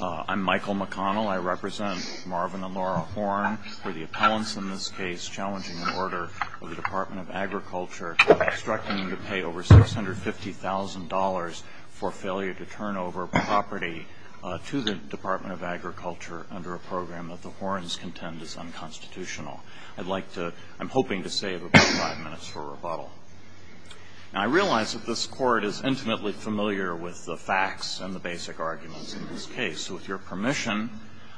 I'm Michael McConnell. I represent Marvin and Laura Horne for the appellants in this case challenging an order of the Department of Agriculture obstructing them to pay over $650,000 for failure to turn over property to the Department of Agriculture under a program that the Hornes contend is unconstitutional. I'd like to, I'm hoping to save about five minutes for rebuttal. Now, I realize that this Court is intimately familiar with the facts and the basic arguments in this case, so with your permission,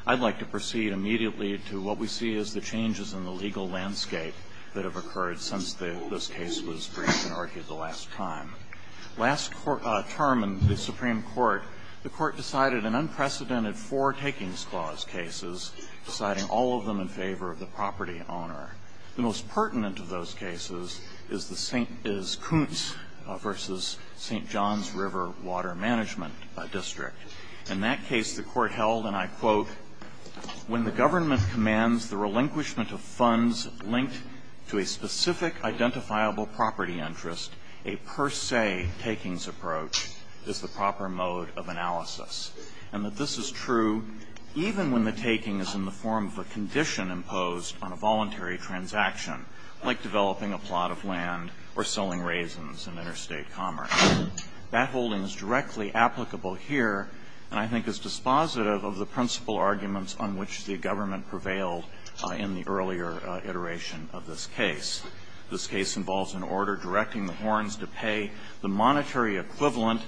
I'd like to proceed immediately to what we see as the changes in the legal landscape that have occurred since this case was briefed and argued the last time. Last term in the Supreme Court, the Court decided an unprecedented four takings clause cases, deciding all of them in favor of the property owner. The most pertinent of those cases is Coontz v. St. John's River Water Management District. In that case, the Court held, and I quote, when the government commands the relinquishment of funds linked to a specific identifiable property interest, a per se takings approach is the proper mode of analysis, and that this is true even when the taking is in the form of a condition imposed on a voluntary transaction, like developing a plot of land or selling raisins in interstate commerce. That holding is directly applicable here, and I think is dispositive of the principle arguments on which the government prevailed in the earlier iteration of this case. This case involves an order directing the horns to pay the monetary equivalent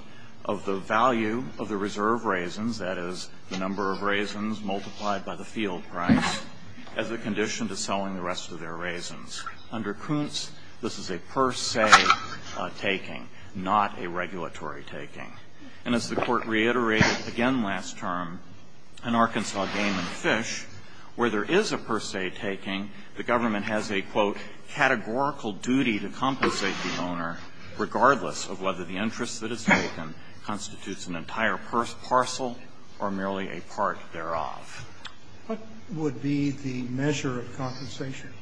of the value of the reserve raisins, that is, the number of raisins multiplied by the field price, as a condition to selling the rest of their raisins. Under Coontz, this is a per se taking, not a regulatory taking. And as the Court reiterated again last term, in Arkansas Game and Fish, where there is a per se taking, the government has a, quote, categorical duty to compensate the owner, regardless of whether the interest that is taken constitutes an entire parcel or merely a part thereof. What would be the measure of compensation?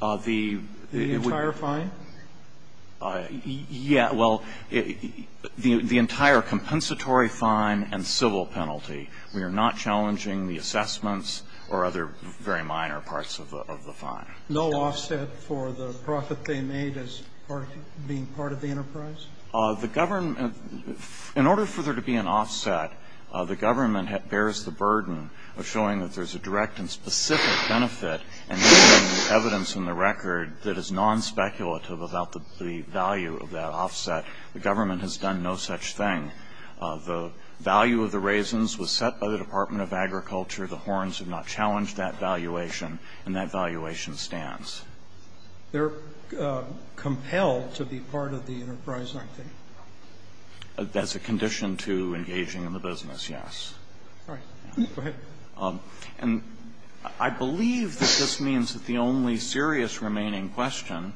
The entire fine? Yeah. Well, the entire compensatory fine and civil penalty. We are not challenging the assessments or other very minor parts of the fine. No offset for the profit they made as part of being part of the enterprise? The government, in order for there to be an offset, the government bears the burden of showing that there's a direct and specific benefit and evidence in the record that is non-speculative about the value of that offset. The government has done no such thing. The value of the raisins was set by the Department of Agriculture. The horns have not challenged that valuation. And that valuation stands. They're compelled to be part of the enterprise, aren't they? As a condition to engaging in the business, yes. All right. Go ahead. And I believe that this means that the only serious remaining question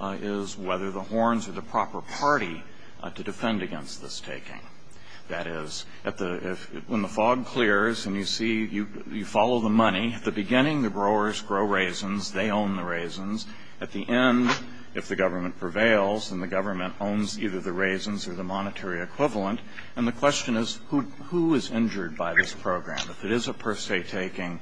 is whether the horns are the proper party to defend against this taking. That is, when the fog clears and you see, you follow the money, at the beginning the growers grow raisins, they own the raisins. At the end, if the government prevails, then the government owns either the raisins or the monetary equivalent. And the question is, who is injured by this program? If it is a per se taking,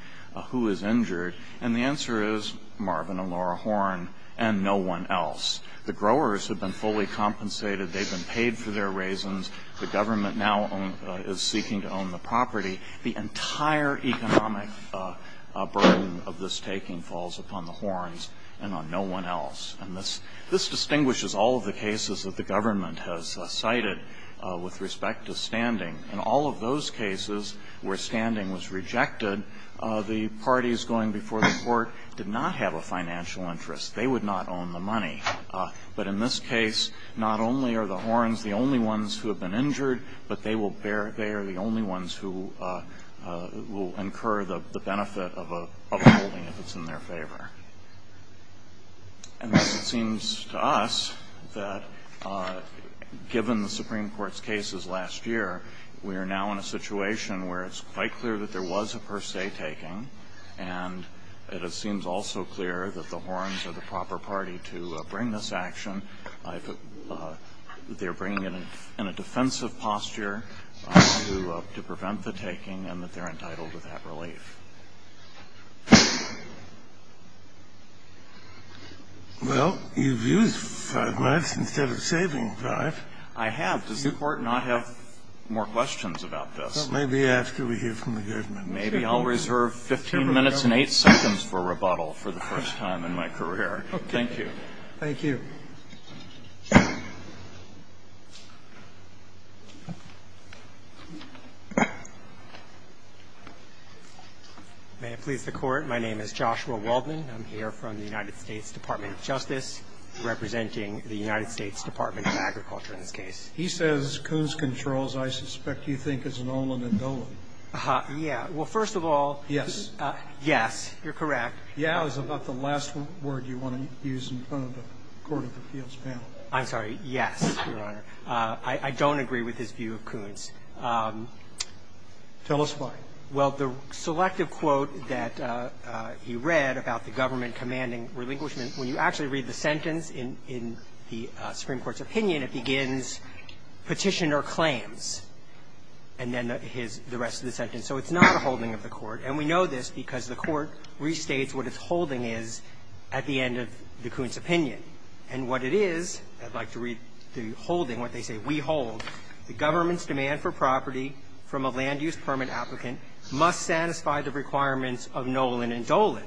who is injured? And the answer is Marvin and Laura Horne and no one else. The growers have been fully compensated. They've been paid for their raisins. The government now is seeking to own the property. The entire economic burden of this taking falls upon the Hornes and on no one else. And this distinguishes all of the cases that the government has cited with respect to standing. In all of those cases where standing was rejected, the parties going before the court did not have a financial interest. They would not own the money. But in this case, not only are the Hornes the only ones who have been injured, but they are the only ones who will incur the benefit of upholding if it's in their favor. And it seems to us that given the Supreme Court's cases last year, we are now in a situation where it's quite clear that there was a per se taking. And it seems also clear that the Hornes are the proper party to bring this action. They're bringing it in a defensive posture to prevent the taking and that they're entitled to that relief. Scalia. Well, you've used five minutes instead of saving five. I have. Does the court not have more questions about this? Well, maybe after we hear from the government. Maybe I'll reserve 15 minutes and 8 seconds for rebuttal for the first time in my career. Thank you. Thank you. May it please the Court. My name is Joshua Waldman. I'm here from the United States Department of Justice, representing the United States Department of Agriculture in this case. He says Kuhn's controls, I suspect you think, is an ollen and dollen. Yeah. Well, first of all, yes. Yes, you're correct. Yeah, is about the last word you want to use in front of the Court of Appeals panel. I'm sorry. Yes, Your Honor. I don't agree with his view of Kuhn's. Tell us why. Well, the selective quote that he read about the government commanding relinquishment, when you actually read the sentence in the Supreme Court's opinion, it begins Petitioner claims and then the rest of the sentence. So it's not a holding of the Court. And we know this because the Court restates what its holding is at the end of the Kuhn's opinion. And what it is, I'd like to read the holding, what they say, we hold, the government's demand for property from a land-use permit applicant must satisfy the requirements of nollen and dollen,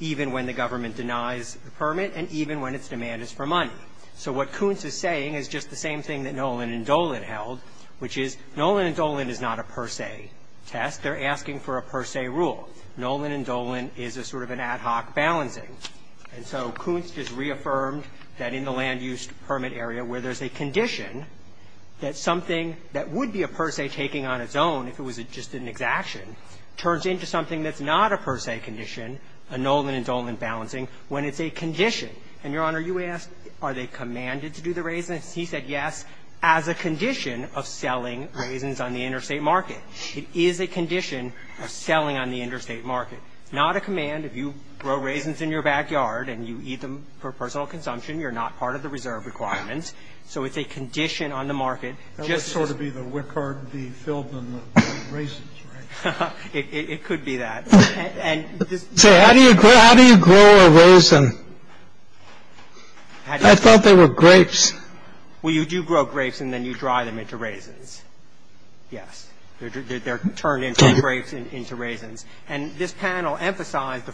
even when the government denies the permit and even when its demand is for money. So what Kuhn's is saying is just the same thing that nollen and dollen held, which is nollen and dollen is not a per se test. They're asking for a per se rule. Nollen and dollen is a sort of an ad hoc balancing. And so Kuhn's just reaffirmed that in the land-use permit area where there's a condition that something that would be a per se taking on its own, if it was just an exaction, turns into something that's not a per se condition, a nollen and dollen balancing, when it's a condition. And, Your Honor, you asked are they commanded to do the raisins. He said yes, as a condition of selling raisins on the interstate market. It is a condition of selling on the interstate market, not a command. If you grow raisins in your backyard and you eat them for personal consumption, you're not part of the reserve requirements. So it's a condition on the market. Just sort of be the wickard, the field and the raisins, right? It could be that. So how do you grow a raisin? I thought they were grapes. Well, you do grow grapes and then you dry them into raisins. Yes. They're turned into grapes and into raisins. And this panel emphasized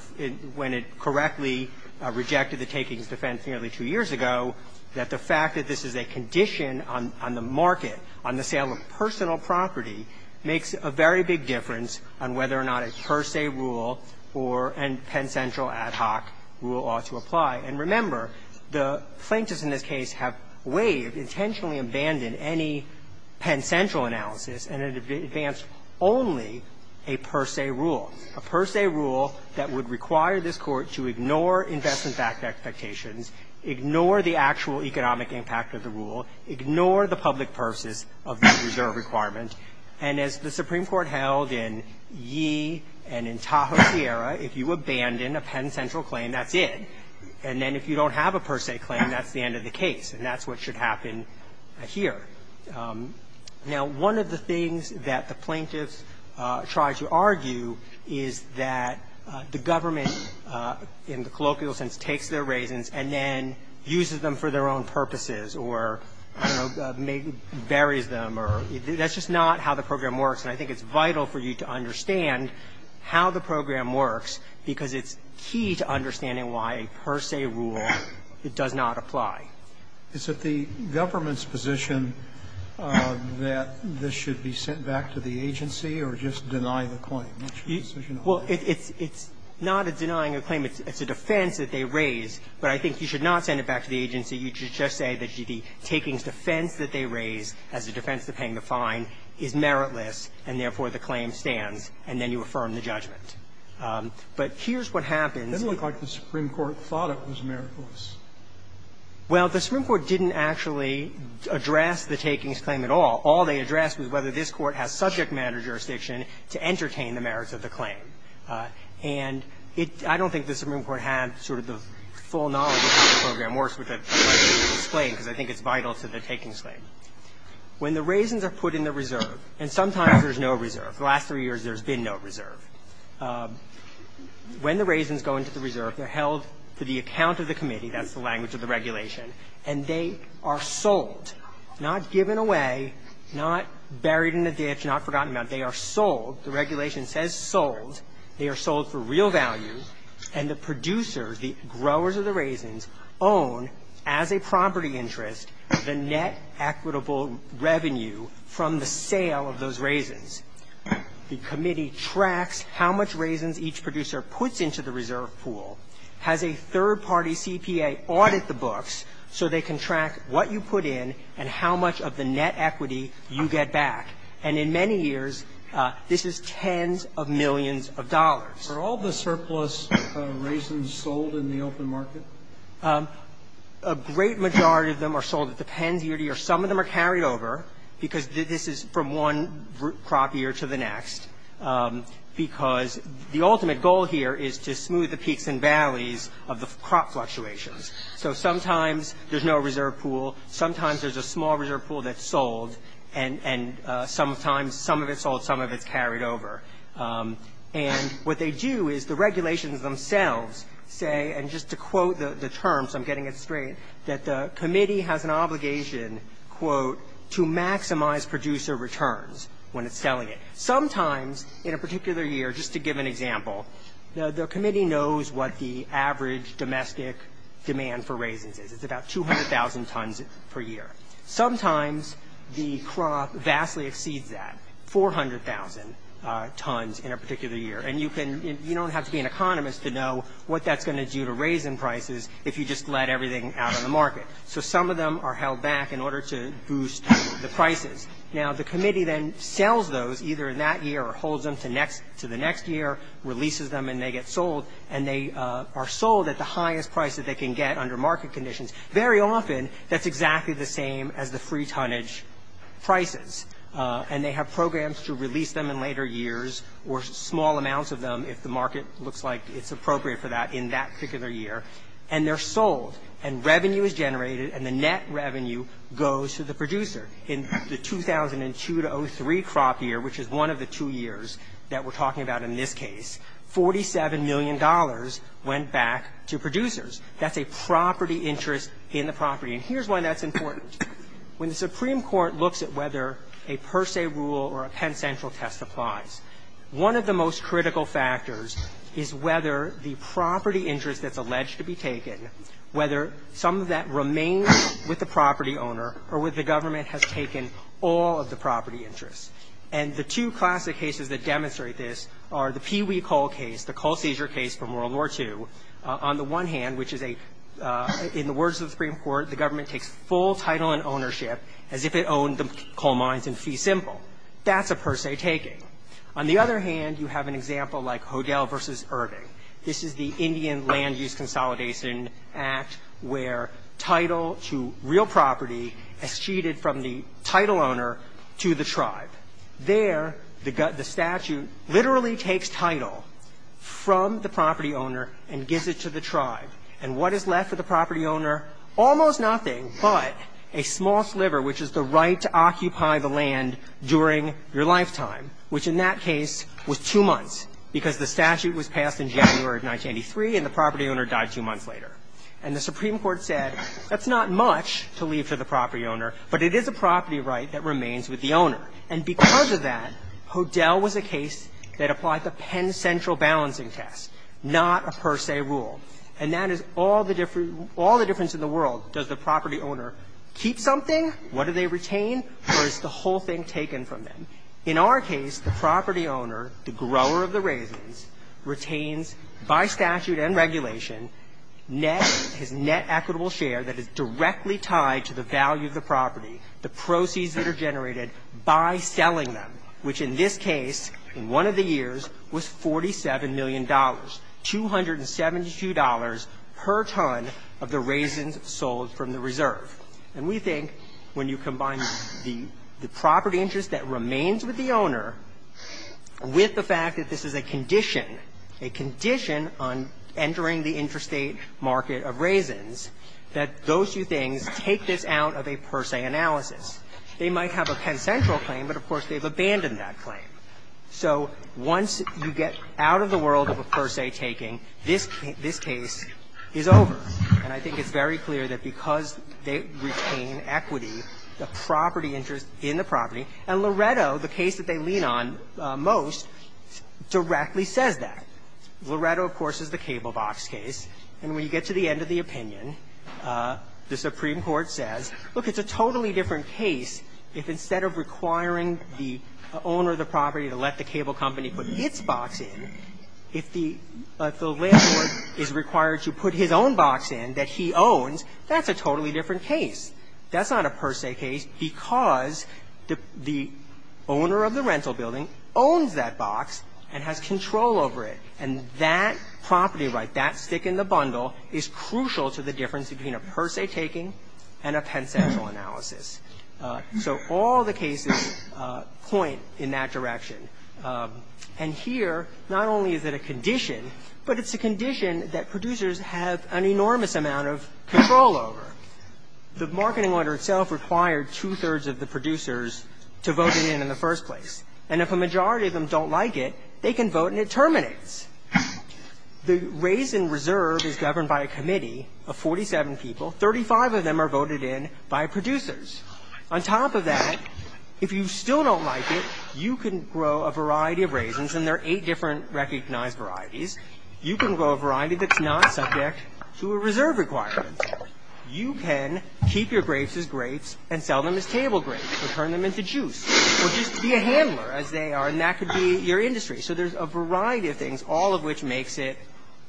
when it correctly rejected the takings defense nearly two years ago that the fact that this is a condition on the market, on the sale of personal property, makes a very big difference on whether or not a per se rule or a Penn Central ad hoc rule ought to apply. And remember, the plaintiffs in this case have waived, intentionally abandoned any Penn Central analysis and it advanced only a per se rule. A per se rule that would require this court to ignore investment expectations, ignore the actual economic impact of the rule, ignore the public purposes of the reserve requirement. And as the Supreme Court held in Yee and in Tahoe Sierra, if you abandon a Penn Central claim, that's it. And then if you don't have a per se claim, that's the end of the case. And that's what should happen here. Now, one of the things that the plaintiffs try to argue is that the government, in the colloquial sense, takes their raisins and then uses them for their own purposes or buries them or that's just not how the program works. And I think it's vital for you to understand how the program works because it's key to understanding why a per se rule does not apply. Is it the government's position that this should be sent back to the agency or just deny the claim? What's your decision on that? Well, it's not a denying a claim. It's a defense that they raise. But I think you should not send it back to the agency. You should just say that the takings defense that they raise as a defense of paying the fine is meritless and therefore the claim stands, and then you affirm the judgment. But here's what happens. It didn't look like the Supreme Court thought it was meritless. Well, the Supreme Court didn't actually address the takings claim at all. All they addressed was whether this Court has subject matter jurisdiction to entertain the merits of the claim. And it – I don't think the Supreme Court had sort of the full knowledge of how the program works, which I'd like to explain because I think it's vital to the takings claim. When the raisins are put in the reserve, and sometimes there's no reserve. The last three years there's been no reserve. When the raisins go into the reserve, they're held to the account of the committee. That's the language of the regulation. And they are sold, not given away, not buried in a ditch, not forgotten about. They are sold. The regulation says sold. They are sold for real value. And the producers, the growers of the raisins, own, as a property interest, the net equitable revenue from the sale of those raisins. The committee tracks how much raisins each producer puts into the reserve pool, has a third-party CPA audit the books so they can track what you put in and how much of the net equity you get back. And in many years, this is tens of millions of dollars. Are all the surplus raisins sold in the open market? A great majority of them are sold. It depends year to year. Some of them are carried over because this is from one crop year to the next, because the ultimate goal here is to smooth the peaks and valleys of the crop fluctuations. So sometimes there's no reserve pool. Sometimes there's a small reserve pool that's sold. And sometimes some of it's sold, some of it's carried over. And what they do is the regulations themselves say, and just to quote the terms, I'm getting it straight, that the committee has an obligation, quote, to maximize producer returns when it's selling it. Sometimes in a particular year, just to give an example, the committee knows what the average domestic demand for raisins is. It's about 200,000 tons per year. Sometimes the crop vastly exceeds that, 400,000 tons in a particular year. And you don't have to be an economist to know what that's going to do to raisin prices if you just let everything out on the market. Now, the committee then sells those either in that year or holds them to the next year, releases them, and they get sold. And they are sold at the highest price that they can get under market conditions. Very often, that's exactly the same as the free tonnage prices. And they have programs to release them in later years or small amounts of them, if the market looks like it's appropriate for that, in that particular year. And they're sold, and revenue is generated, and the net revenue goes to the producer. In the 2002-03 crop year, which is one of the two years that we're talking about in this case, $47 million went back to producers. That's a property interest in the property. And here's why that's important. When the Supreme Court looks at whether a per se rule or a Penn Central test applies, one of the most critical factors is whether the property interest that's alleged to be taken, whether some of that remains with the property owner or with the government, has taken all of the property interest. And the two classic cases that demonstrate this are the Pee Wee Coal case, the coal seizure case from World War II. On the one hand, which is a, in the words of the Supreme Court, the government takes full title and ownership as if it owned the coal mines in fee simple. That's a per se taking. On the other hand, you have an example like Hodel versus Irving. This is the Indian Land Use Consolidation Act where title to real property is cheated from the title owner to the tribe. There, the statute literally takes title from the property owner and gives it to the tribe. And what is left for the property owner? Almost nothing but a small sliver, which is the right to occupy the land during your lifetime, which in that case was two months because the statute was passed in January of 1983 and the property owner died two months later. And the Supreme Court said that's not much to leave to the property owner, but it is a property right that remains with the owner. And because of that, Hodel was a case that applied the Penn Central balancing test, not a per se rule. And that is all the difference in the world. Does the property owner keep something? What do they retain? Or is the whole thing taken from them? In our case, the property owner, the grower of the raisins, retains by statute and regulation net, his net equitable share that is directly tied to the value of the property, the proceeds that are generated by selling them, which in this case, in one of the years, was $47 million, $272 per ton of the raisins sold from the reserve. And we think when you combine the property interest that remains with the owner with the fact that this is a condition, a condition on entering the interstate market of raisins, that those two things take this out of a per se analysis. They might have a Penn Central claim, but of course, they've abandoned that claim. So once you get out of the world of a per se taking, this case is over. And I think it's very clear that because they retain equity, the property interest in the property, and Loretto, the case that they lean on most, directly says that. Loretto, of course, is the cable box case. And when you get to the end of the opinion, the Supreme Court says, look, it's a totally different case if instead of requiring the owner of the property to let the cable box in that he owns, that's a totally different case. That's not a per se case because the owner of the rental building owns that box and has control over it. And that property right, that stick in the bundle, is crucial to the difference between a per se taking and a Penn Central analysis. So all the cases point in that direction. And here, not only is it a condition, but it's a condition that producers have an enormous amount of control over. The marketing order itself required two-thirds of the producers to vote it in in the first place. And if a majority of them don't like it, they can vote and it terminates. The raise in reserve is governed by a committee of 47 people. Thirty-five of them are voted in by producers. On top of that, if you still don't like it, you can grow a variety of raisins, and there are eight different recognized varieties. You can grow a variety that's not subject to a reserve requirement. You can keep your grapes as grapes and sell them as table grapes or turn them into juice or just be a handler as they are, and that could be your industry. So there's a variety of things, all of which makes it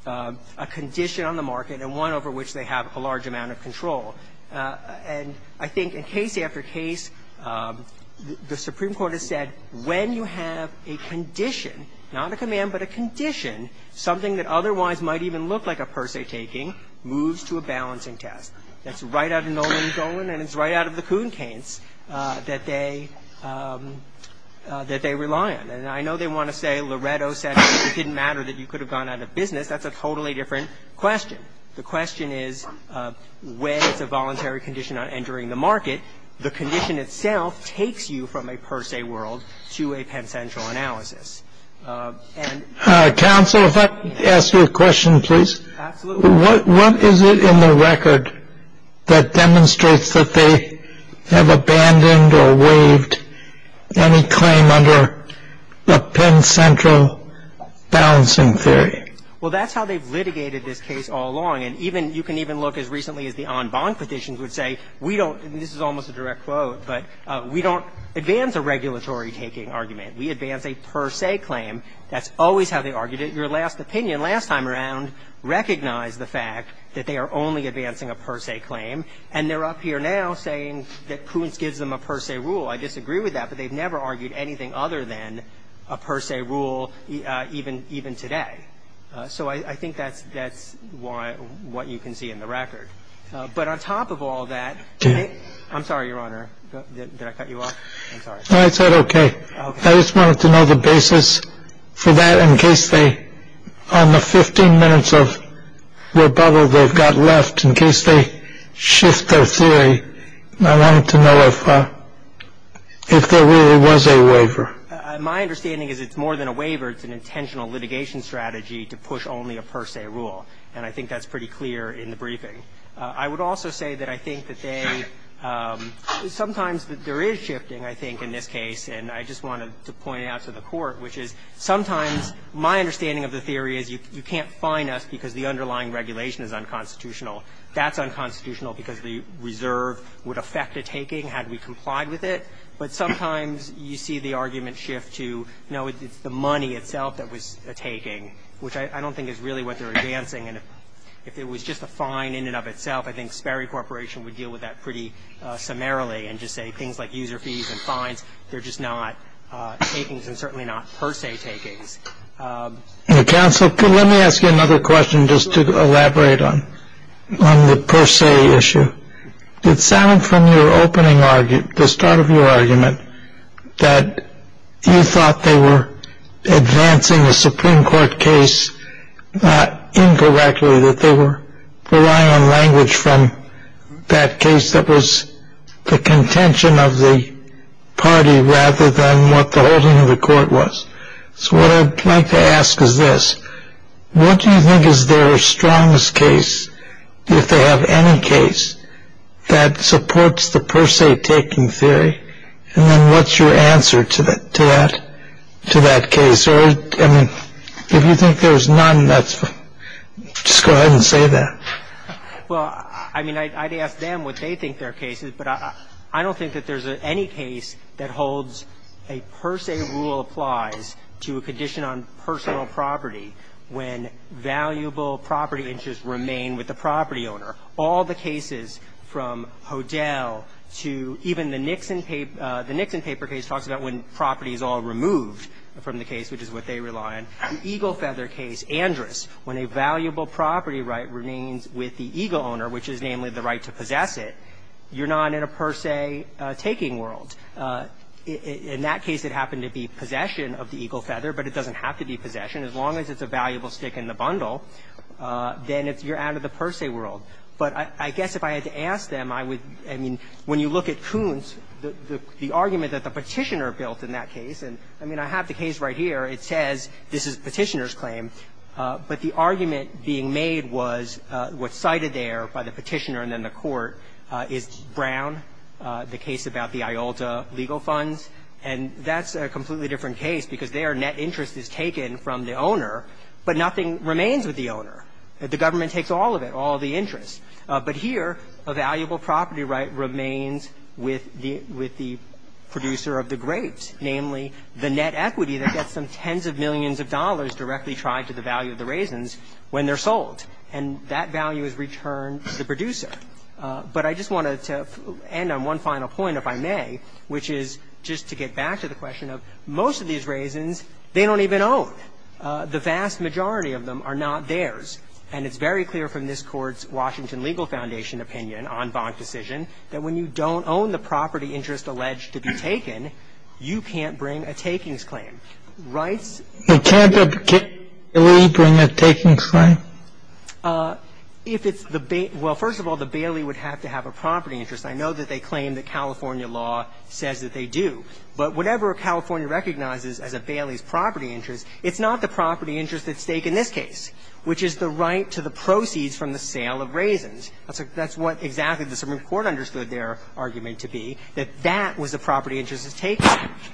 a condition on the market and one over which they have a large amount of control. And I think in case after case, the Supreme Court has said when you have a condition, not a command, but a condition, something that otherwise might even look like a per se taking moves to a balancing test. That's right out of Nolan Dolan and it's right out of the Kuhn-Kaints that they rely on. And I know they want to say Loretto said it didn't matter that you could have gone out of business. That's a totally different question. The question is, when it's a voluntary condition on entering the market, the condition itself takes you from a per se world to a Penn Central analysis. Counsel, if I could ask you a question, please. Absolutely. What is it in the record that demonstrates that they have abandoned or waived any claim under the Penn Central balancing theory? Well, that's how they've litigated this case all along. And even you can even look as recently as the en banc petitions would say, we don't and this is almost a direct quote, but we don't advance a regulatory taking argument. We advance a per se claim. That's always how they argued it. Your last opinion last time around recognized the fact that they are only advancing a per se claim. And they're up here now saying that Kuhn-Kaints gives them a per se rule. I disagree with that, but they've never argued anything other than a per se rule even today. So I think that's that's why what you can see in the record. But on top of all that, I'm sorry, Your Honor, that I cut you off. I'm sorry. I said, OK. I just wanted to know the basis for that in case they on the 15 minutes of rebuttal, they've got left in case they shift their theory. I wanted to know if if there really was a waiver. My understanding is it's more than a waiver. It's an intentional litigation strategy to push only a per se rule. And I think that's pretty clear in the briefing. I would also say that I think that they sometimes there is shifting, I think, in this case. And I just wanted to point out to the court, which is sometimes my understanding of the theory is you can't fine us because the underlying regulation is unconstitutional. That's unconstitutional because the reserve would affect a taking had we complied with it. But sometimes you see the argument shift to, you know, it's the money itself that was a taking, which I don't think is really what they're advancing. And if it was just a fine in and of itself, I think Sperry Corporation would deal with that pretty summarily and just say things like user fees and fines. They're just not takings and certainly not per se takings. Counsel, let me ask you another question just to elaborate on the per se issue. It sounded from your opening argument, the start of your argument, that you thought they were advancing the Supreme Court case incorrectly, that they were relying on language from that case that was the contention of the party rather than what the holding of the court was. So what I'd like to ask is this. What do you think is their strongest case? If they have any case that supports the per se taking theory, and then what's your answer to that case? Or, I mean, if you think there's none, just go ahead and say that. Well, I mean, I'd ask them what they think their case is. But I don't think that there's any case that holds a per se rule applies to a condition on personal property when valuable property interests remain with the property owner. All the cases from Hodel to even the Nixon paper case talks about when property is all removed from the case, which is what they rely on. The eagle feather case, Andrus, when a valuable property right remains with the eagle owner, which is namely the right to possess it, you're not in a per se taking world. In that case, it happened to be possession of the eagle feather, but it doesn't have to be possession. As long as it's a valuable stick in the bundle, then you're out of the per se world. But I guess if I had to ask them, I would – I mean, when you look at Kuhn's, the argument that the Petitioner built in that case – and, I mean, I have the case right here. It says this is Petitioner's claim. But the argument being made was what's cited there by the Petitioner and then the legal funds, and that's a completely different case because there, net interest is taken from the owner, but nothing remains with the owner. The government takes all of it, all the interest. But here, a valuable property right remains with the producer of the grapes, namely, the net equity that gets them tens of millions of dollars directly tied to the value of the raisins when they're sold. And that value is returned to the producer. But I just wanted to end on one final point, if I may, which is just to get back to the question of most of these raisins, they don't even own. The vast majority of them are not theirs. And it's very clear from this Court's Washington Legal Foundation opinion on Vaughan's decision that when you don't own the property interest alleged to be taken, you can't bring a takings claim. Rights – They can't particularly bring a takings claim? If it's the – well, first of all, the Bailey would have to have a property interest. I know that they claim that California law says that they do. But whatever California recognizes as a Bailey's property interest, it's not the property interest at stake in this case, which is the right to the proceeds from the sale of raisins. That's what exactly the Supreme Court understood their argument to be, that that was a property interest that's taken.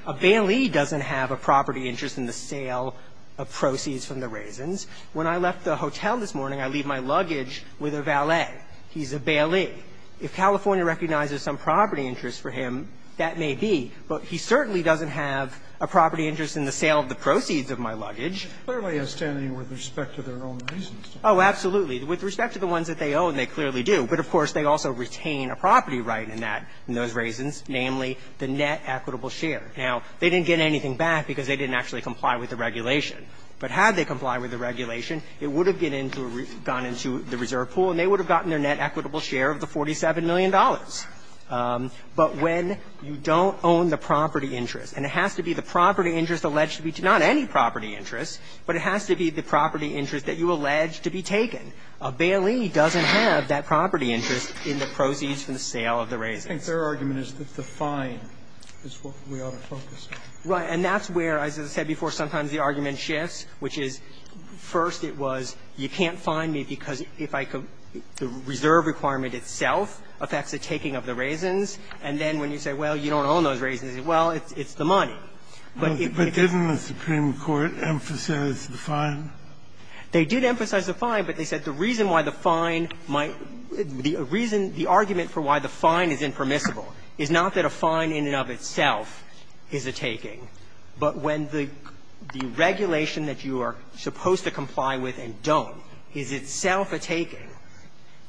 A Bailey doesn't have a property interest in the sale of proceeds from the raisins. When I left the hotel this morning, I leave my luggage with a valet. He's a Bailey. If California recognizes some property interest for him, that may be. But he certainly doesn't have a property interest in the sale of the proceeds of my luggage. Scalia's standing with respect to their own raisins. Oh, absolutely. With respect to the ones that they own, they clearly do. But, of course, they also retain a property right in that – in those raisins, namely the net equitable share. Now, they didn't get anything back because they didn't actually comply with the regulation. But had they complied with the regulation, it would have gone into the reserve pool and they would have gotten their net equitable share of the $47 million. But when you don't own the property interest, and it has to be the property interest alleged to be – not any property interest, but it has to be the property interest that you allege to be taken, a Bailey doesn't have that property interest in the proceeds from the sale of the raisins. I think their argument is that the fine is what we ought to focus on. Right. And that's where, as I said before, sometimes the argument shifts, which is, first it was, you can't fine me because if I could – the reserve requirement itself affects the taking of the raisins. And then when you say, well, you don't own those raisins, well, it's the money. But if it's the money, it's the money. But didn't the Supreme Court emphasize the fine? They did emphasize the fine, but they said the reason why the fine might – the reason – the argument for why the fine is impermissible is not that a fine in and of itself is a taking, but when the regulation that you are supposed to comply with and don't is itself a taking,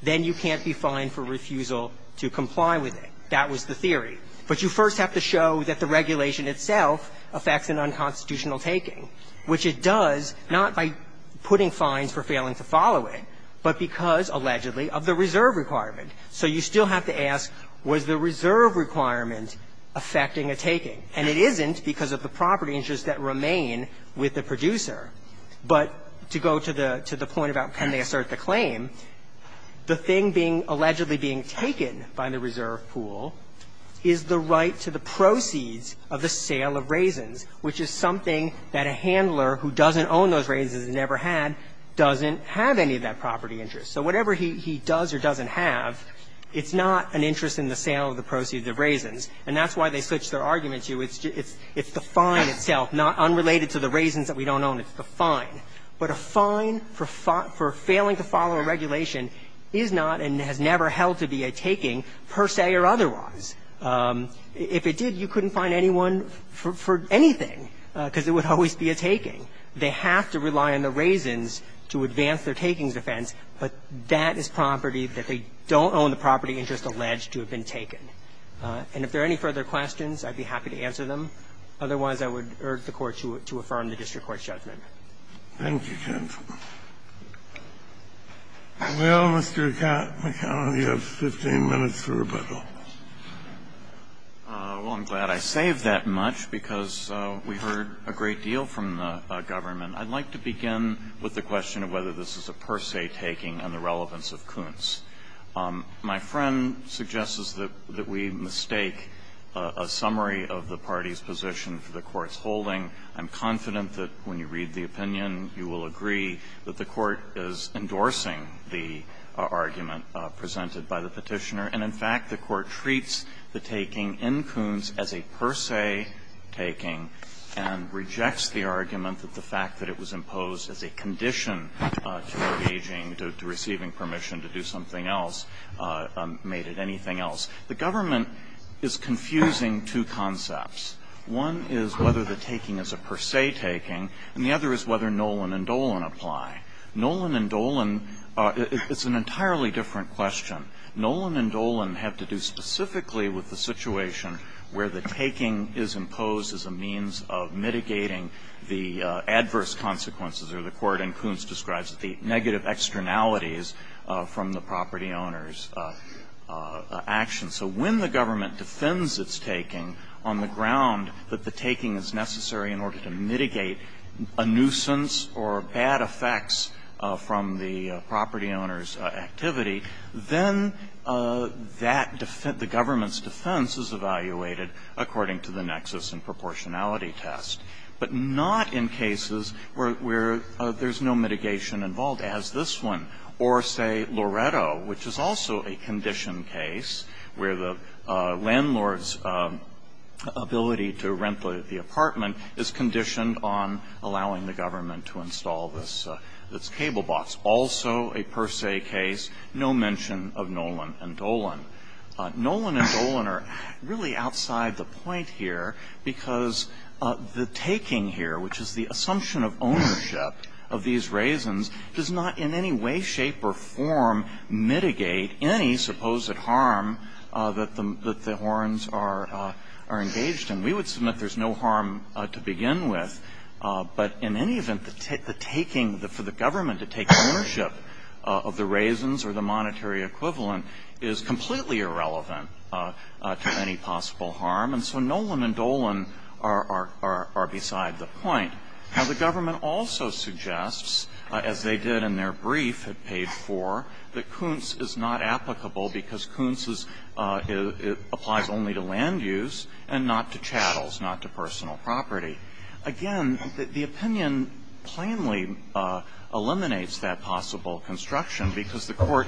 then you can't be fined for refusal to comply with it. That was the theory. But you first have to show that the regulation itself affects an unconstitutional taking, which it does, not by putting fines for failing to follow it, but because, allegedly, of the reserve requirement. So you still have to ask, was the reserve requirement affecting a taking? And it isn't because of the property interests that remain with the producer. But to go to the point about can they assert the claim, the thing being – allegedly being taken by the reserve pool is the right to the proceeds of the sale of raisins, which is something that a handler who doesn't own those raisins and never had doesn't have any of that property interest. So whatever he does or doesn't have, it's not an interest in the sale of the proceeds of raisins. And that's why they switch their argument to it's the fine itself, not unrelated to the raisins that we don't own, it's the fine. But a fine for failing to follow a regulation is not and has never held to be a taking per se or otherwise. If it did, you couldn't fine anyone for anything, because it would always be a taking. They have to rely on the raisins to advance their taking defense, but that is property that they don't own the property interest alleged to have been taken. And if there are any further questions, I'd be happy to answer them. Otherwise, I would urge the Court to affirm the district court's judgment. Thank you, Jens. Well, Mr. McConnell, you have 15 minutes for rebuttal. Well, I'm glad I saved that much, because we heard a great deal from the government. I'd like to begin with the question of whether this is a per se taking and the relevance of Kuntz. My friend suggests that we mistake a summary of the party's position for the Court's holding. I'm confident that when you read the opinion, you will agree that the Court is endorsing the argument presented by the Petitioner. And in fact, the Court treats the taking in Kuntz as a per se taking and rejects the argument that the fact that it was imposed as a condition to engaging, to receiving permission to do something else made it anything else. The government is confusing two concepts. One is whether the taking is a per se taking, and the other is whether Nolan and Dolan apply. Nolan and Dolan, it's an entirely different question. Nolan and Dolan have to do specifically with the situation where the taking is imposed as a means of mitigating the adverse consequences, or the Court in Kuntz describes the negative externalities from the property owner's action. So when the government defends its taking on the ground that the taking is necessary in order to mitigate a nuisance or bad effects from the property owner's activity, then that defense, the government's defense is evaluated according to the nexus and proportionality test, but not in cases where there's no mitigation involved, as this one. Or say, Loretto, which is also a condition case where the landlord's ability to rent the apartment is conditioned on allowing the government to install this cable box. Also a per se case, no mention of Nolan and Dolan. Nolan and Dolan are really outside the point here, because the taking here, which is the assumption of ownership of these raisins, does not in any way, shape, or form mitigate any supposed harm that the horns are engaged in. We would assume that there's no harm to begin with, but in any event, the taking, for the government to take ownership of the raisins or the monetary equivalent is completely irrelevant to any possible harm. And so Nolan and Dolan are beside the point. Now, the government also suggests, as they did in their brief at page 4, that Kuntz is not applicable because Kuntz is, applies only to land use and not to chattel and not to personal property. Again, the opinion plainly eliminates that possible construction, because the court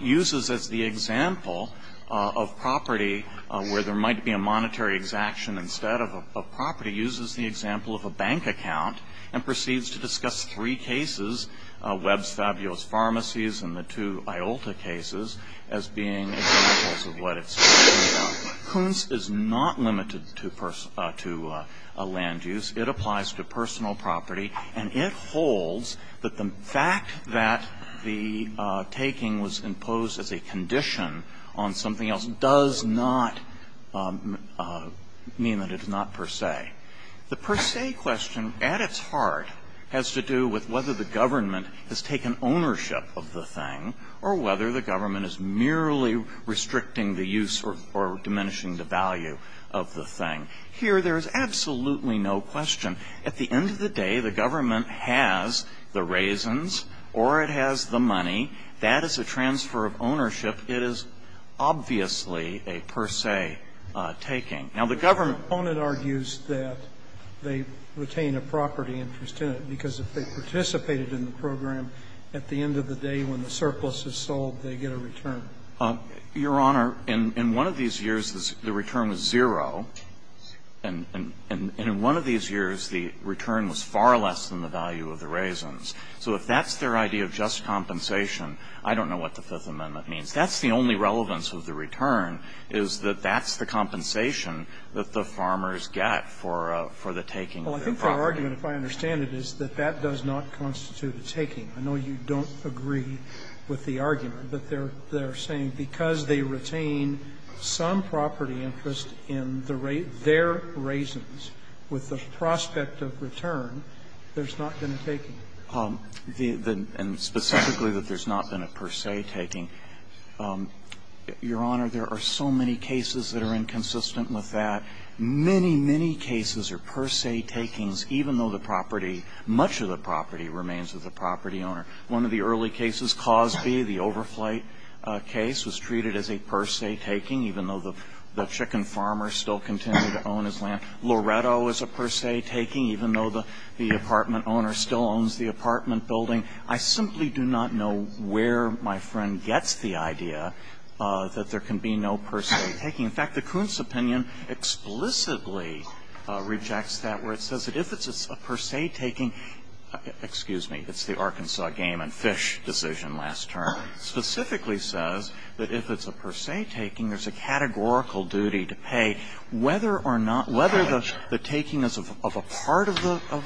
uses as the example of property where there might be a monetary exaction instead of property, uses the example of a bank account and proceeds to discuss three cases, Webb's Fabulous Pharmacies and the two Iolta cases, as being examples of what it's talking about. Kuntz is not limited to land use. It applies to personal property, and it holds that the fact that the taking was imposed as a condition on something else does not mean that it is not per se. The per se question, at its heart, has to do with whether the government has taken ownership of the thing or whether the government is merely restricting the use or diminishing the value of the thing. Here, there is absolutely no question. At the end of the day, the government has the raisins or it has the money. That is a transfer of ownership. It is obviously a per se taking. Now, the government argues that they retain a property interest in it because if they participated in the program, at the end of the day when the surplus is sold, they get a return. Your Honor, in one of these years, the return was zero, and in one of these years, the return was far less than the value of the raisins. So if that's their idea of just compensation, I don't know what the Fifth Amendment means. That's the only relevance of the return, is that that's the compensation that the farmers get for the taking of their property. Well, I think their argument, if I understand it, is that that does not constitute a taking. I know you don't agree with the argument, but they're saying because they retain some property interest in their raisins with the prospect of return, there's not been a taking. And specifically that there's not been a per se taking, Your Honor, there are so many cases that are inconsistent with that. Many, many cases are per se takings, even though the property, much of the property remains with the property owner. One of the early cases, Cosby, the overflight case, was treated as a per se taking, even though the chicken farmer still continued to own his land. Loretto is a per se taking, even though the apartment owner still owns the apartment building. I simply do not know where my friend gets the idea that there can be no per se taking. In fact, the Kuntz opinion explicitly rejects that, where it says that if it's a per se taking, excuse me, it's the Arkansas game and fish decision last term, specifically says that if it's a per se taking, there's a categorical duty to pay whether or not, whether the taking is of a part of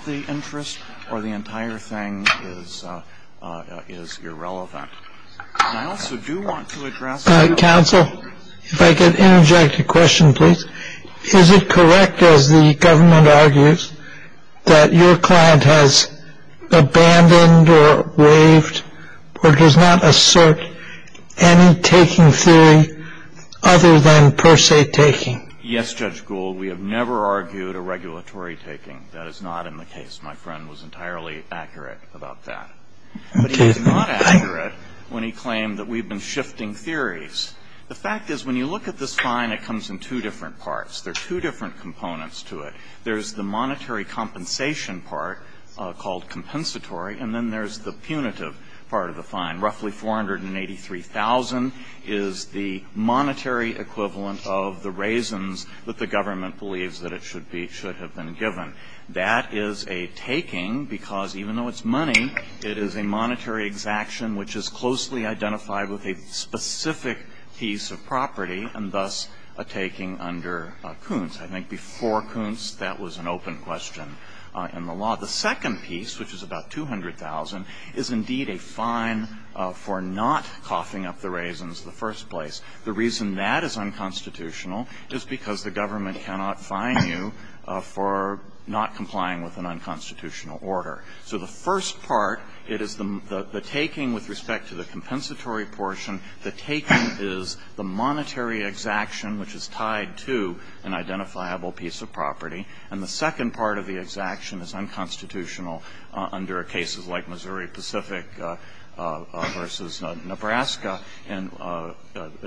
the interest or the entire thing is irrelevant. And I also do want to address the other. Counsel, if I could interject a question, please. Is it correct, as the government argues, that your client has abandoned or waived or does not assert any taking theory other than per se taking? Yes, Judge Gould, we have never argued a regulatory taking. That is not in the case. My friend was entirely accurate about that. But he was not accurate when he claimed that we've been shifting theories. The fact is, when you look at this fine, it comes in two different parts. There are two different components to it. There's the monetary compensation part called compensatory, and then there's the punitive part of the fine. Roughly $483,000 is the monetary equivalent of the raisins that the government believes that it should be, should have been given. That is a taking because even though it's money, it is a monetary exaction which is closely identified with a specific piece of property, and thus a taking under Kuntz. I think before Kuntz, that was an open question in the law. The second piece, which is about $200,000, is indeed a fine for not coughing up the raisins in the first place. The reason that is unconstitutional is because the government cannot fine you for not complying with an unconstitutional order. So the first part, it is the taking with respect to the compensatory portion. The taking is the monetary exaction, which is tied to an identifiable piece of property, and the second part of the exaction is unconstitutional under cases like Missouri Pacific versus Nebraska, and a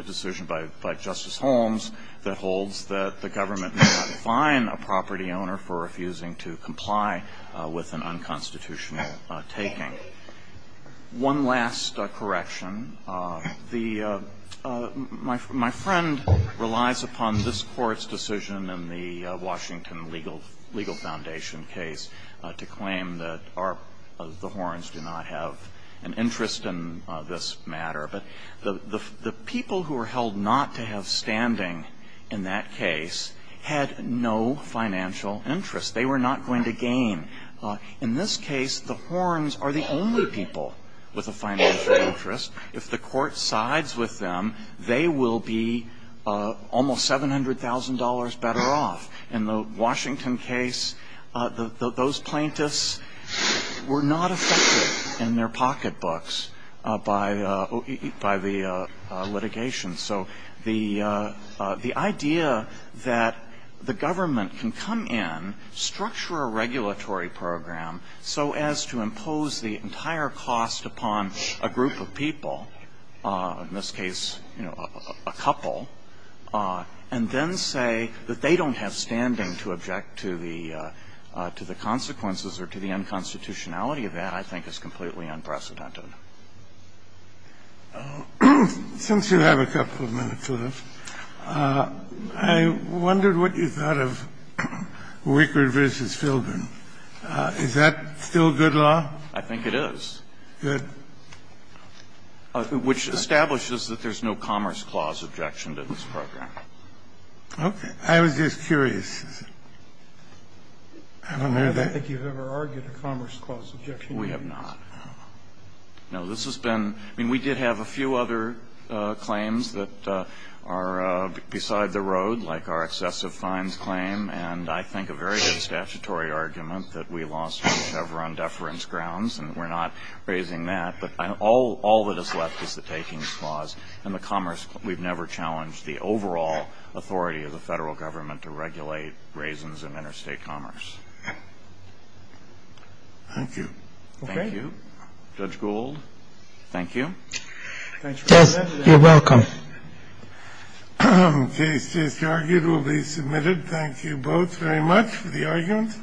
decision by Justice Holmes that holds that the government cannot fine a property owner for refusing to comply with an unconstitutional taking. One last correction. The, my friend relies upon this Court's decision in the Washington Legal Foundation case to claim that the Horns do not have an interest in this matter, but the people who are held not to have standing in that case had no financial interest. They were not going to gain. In this case, the Horns are the only people with a financial interest. If the Court sides with them, they will be almost $700,000 better off. In the Washington case, those plaintiffs were not affected in their pocketbooks by the litigation. So the idea that the government can come in, structure a regulatory program so as to impose the entire cost upon a group of people, in this case, a couple, and then say that they don't have standing to object to the consequences or to the unconstitutionality of that, I think, is completely unprecedented. Since you have a couple of minutes left, I wondered what you thought of Wickard v. Fildren. Is that still good law? I think it is. Good. Which establishes that there's no Commerce Clause objection to this program. Okay. I was just curious. I don't know if I think you've ever argued a Commerce Clause objection to this. We have not. No. This has been, I mean, we did have a few other claims that are beside the road, like our excessive fines claim, and I think a very good statutory argument that we lost the Chevron deference grounds. And we're not raising that. But all that is left is the Takings Clause. And the Commerce, we've never challenged the overall authority of the federal government to regulate raisins in interstate commerce. Thank you. Okay. Judge Gould, thank you. Thanks for having me. You're welcome. Case just argued will be submitted. Thank you both very much for the argument.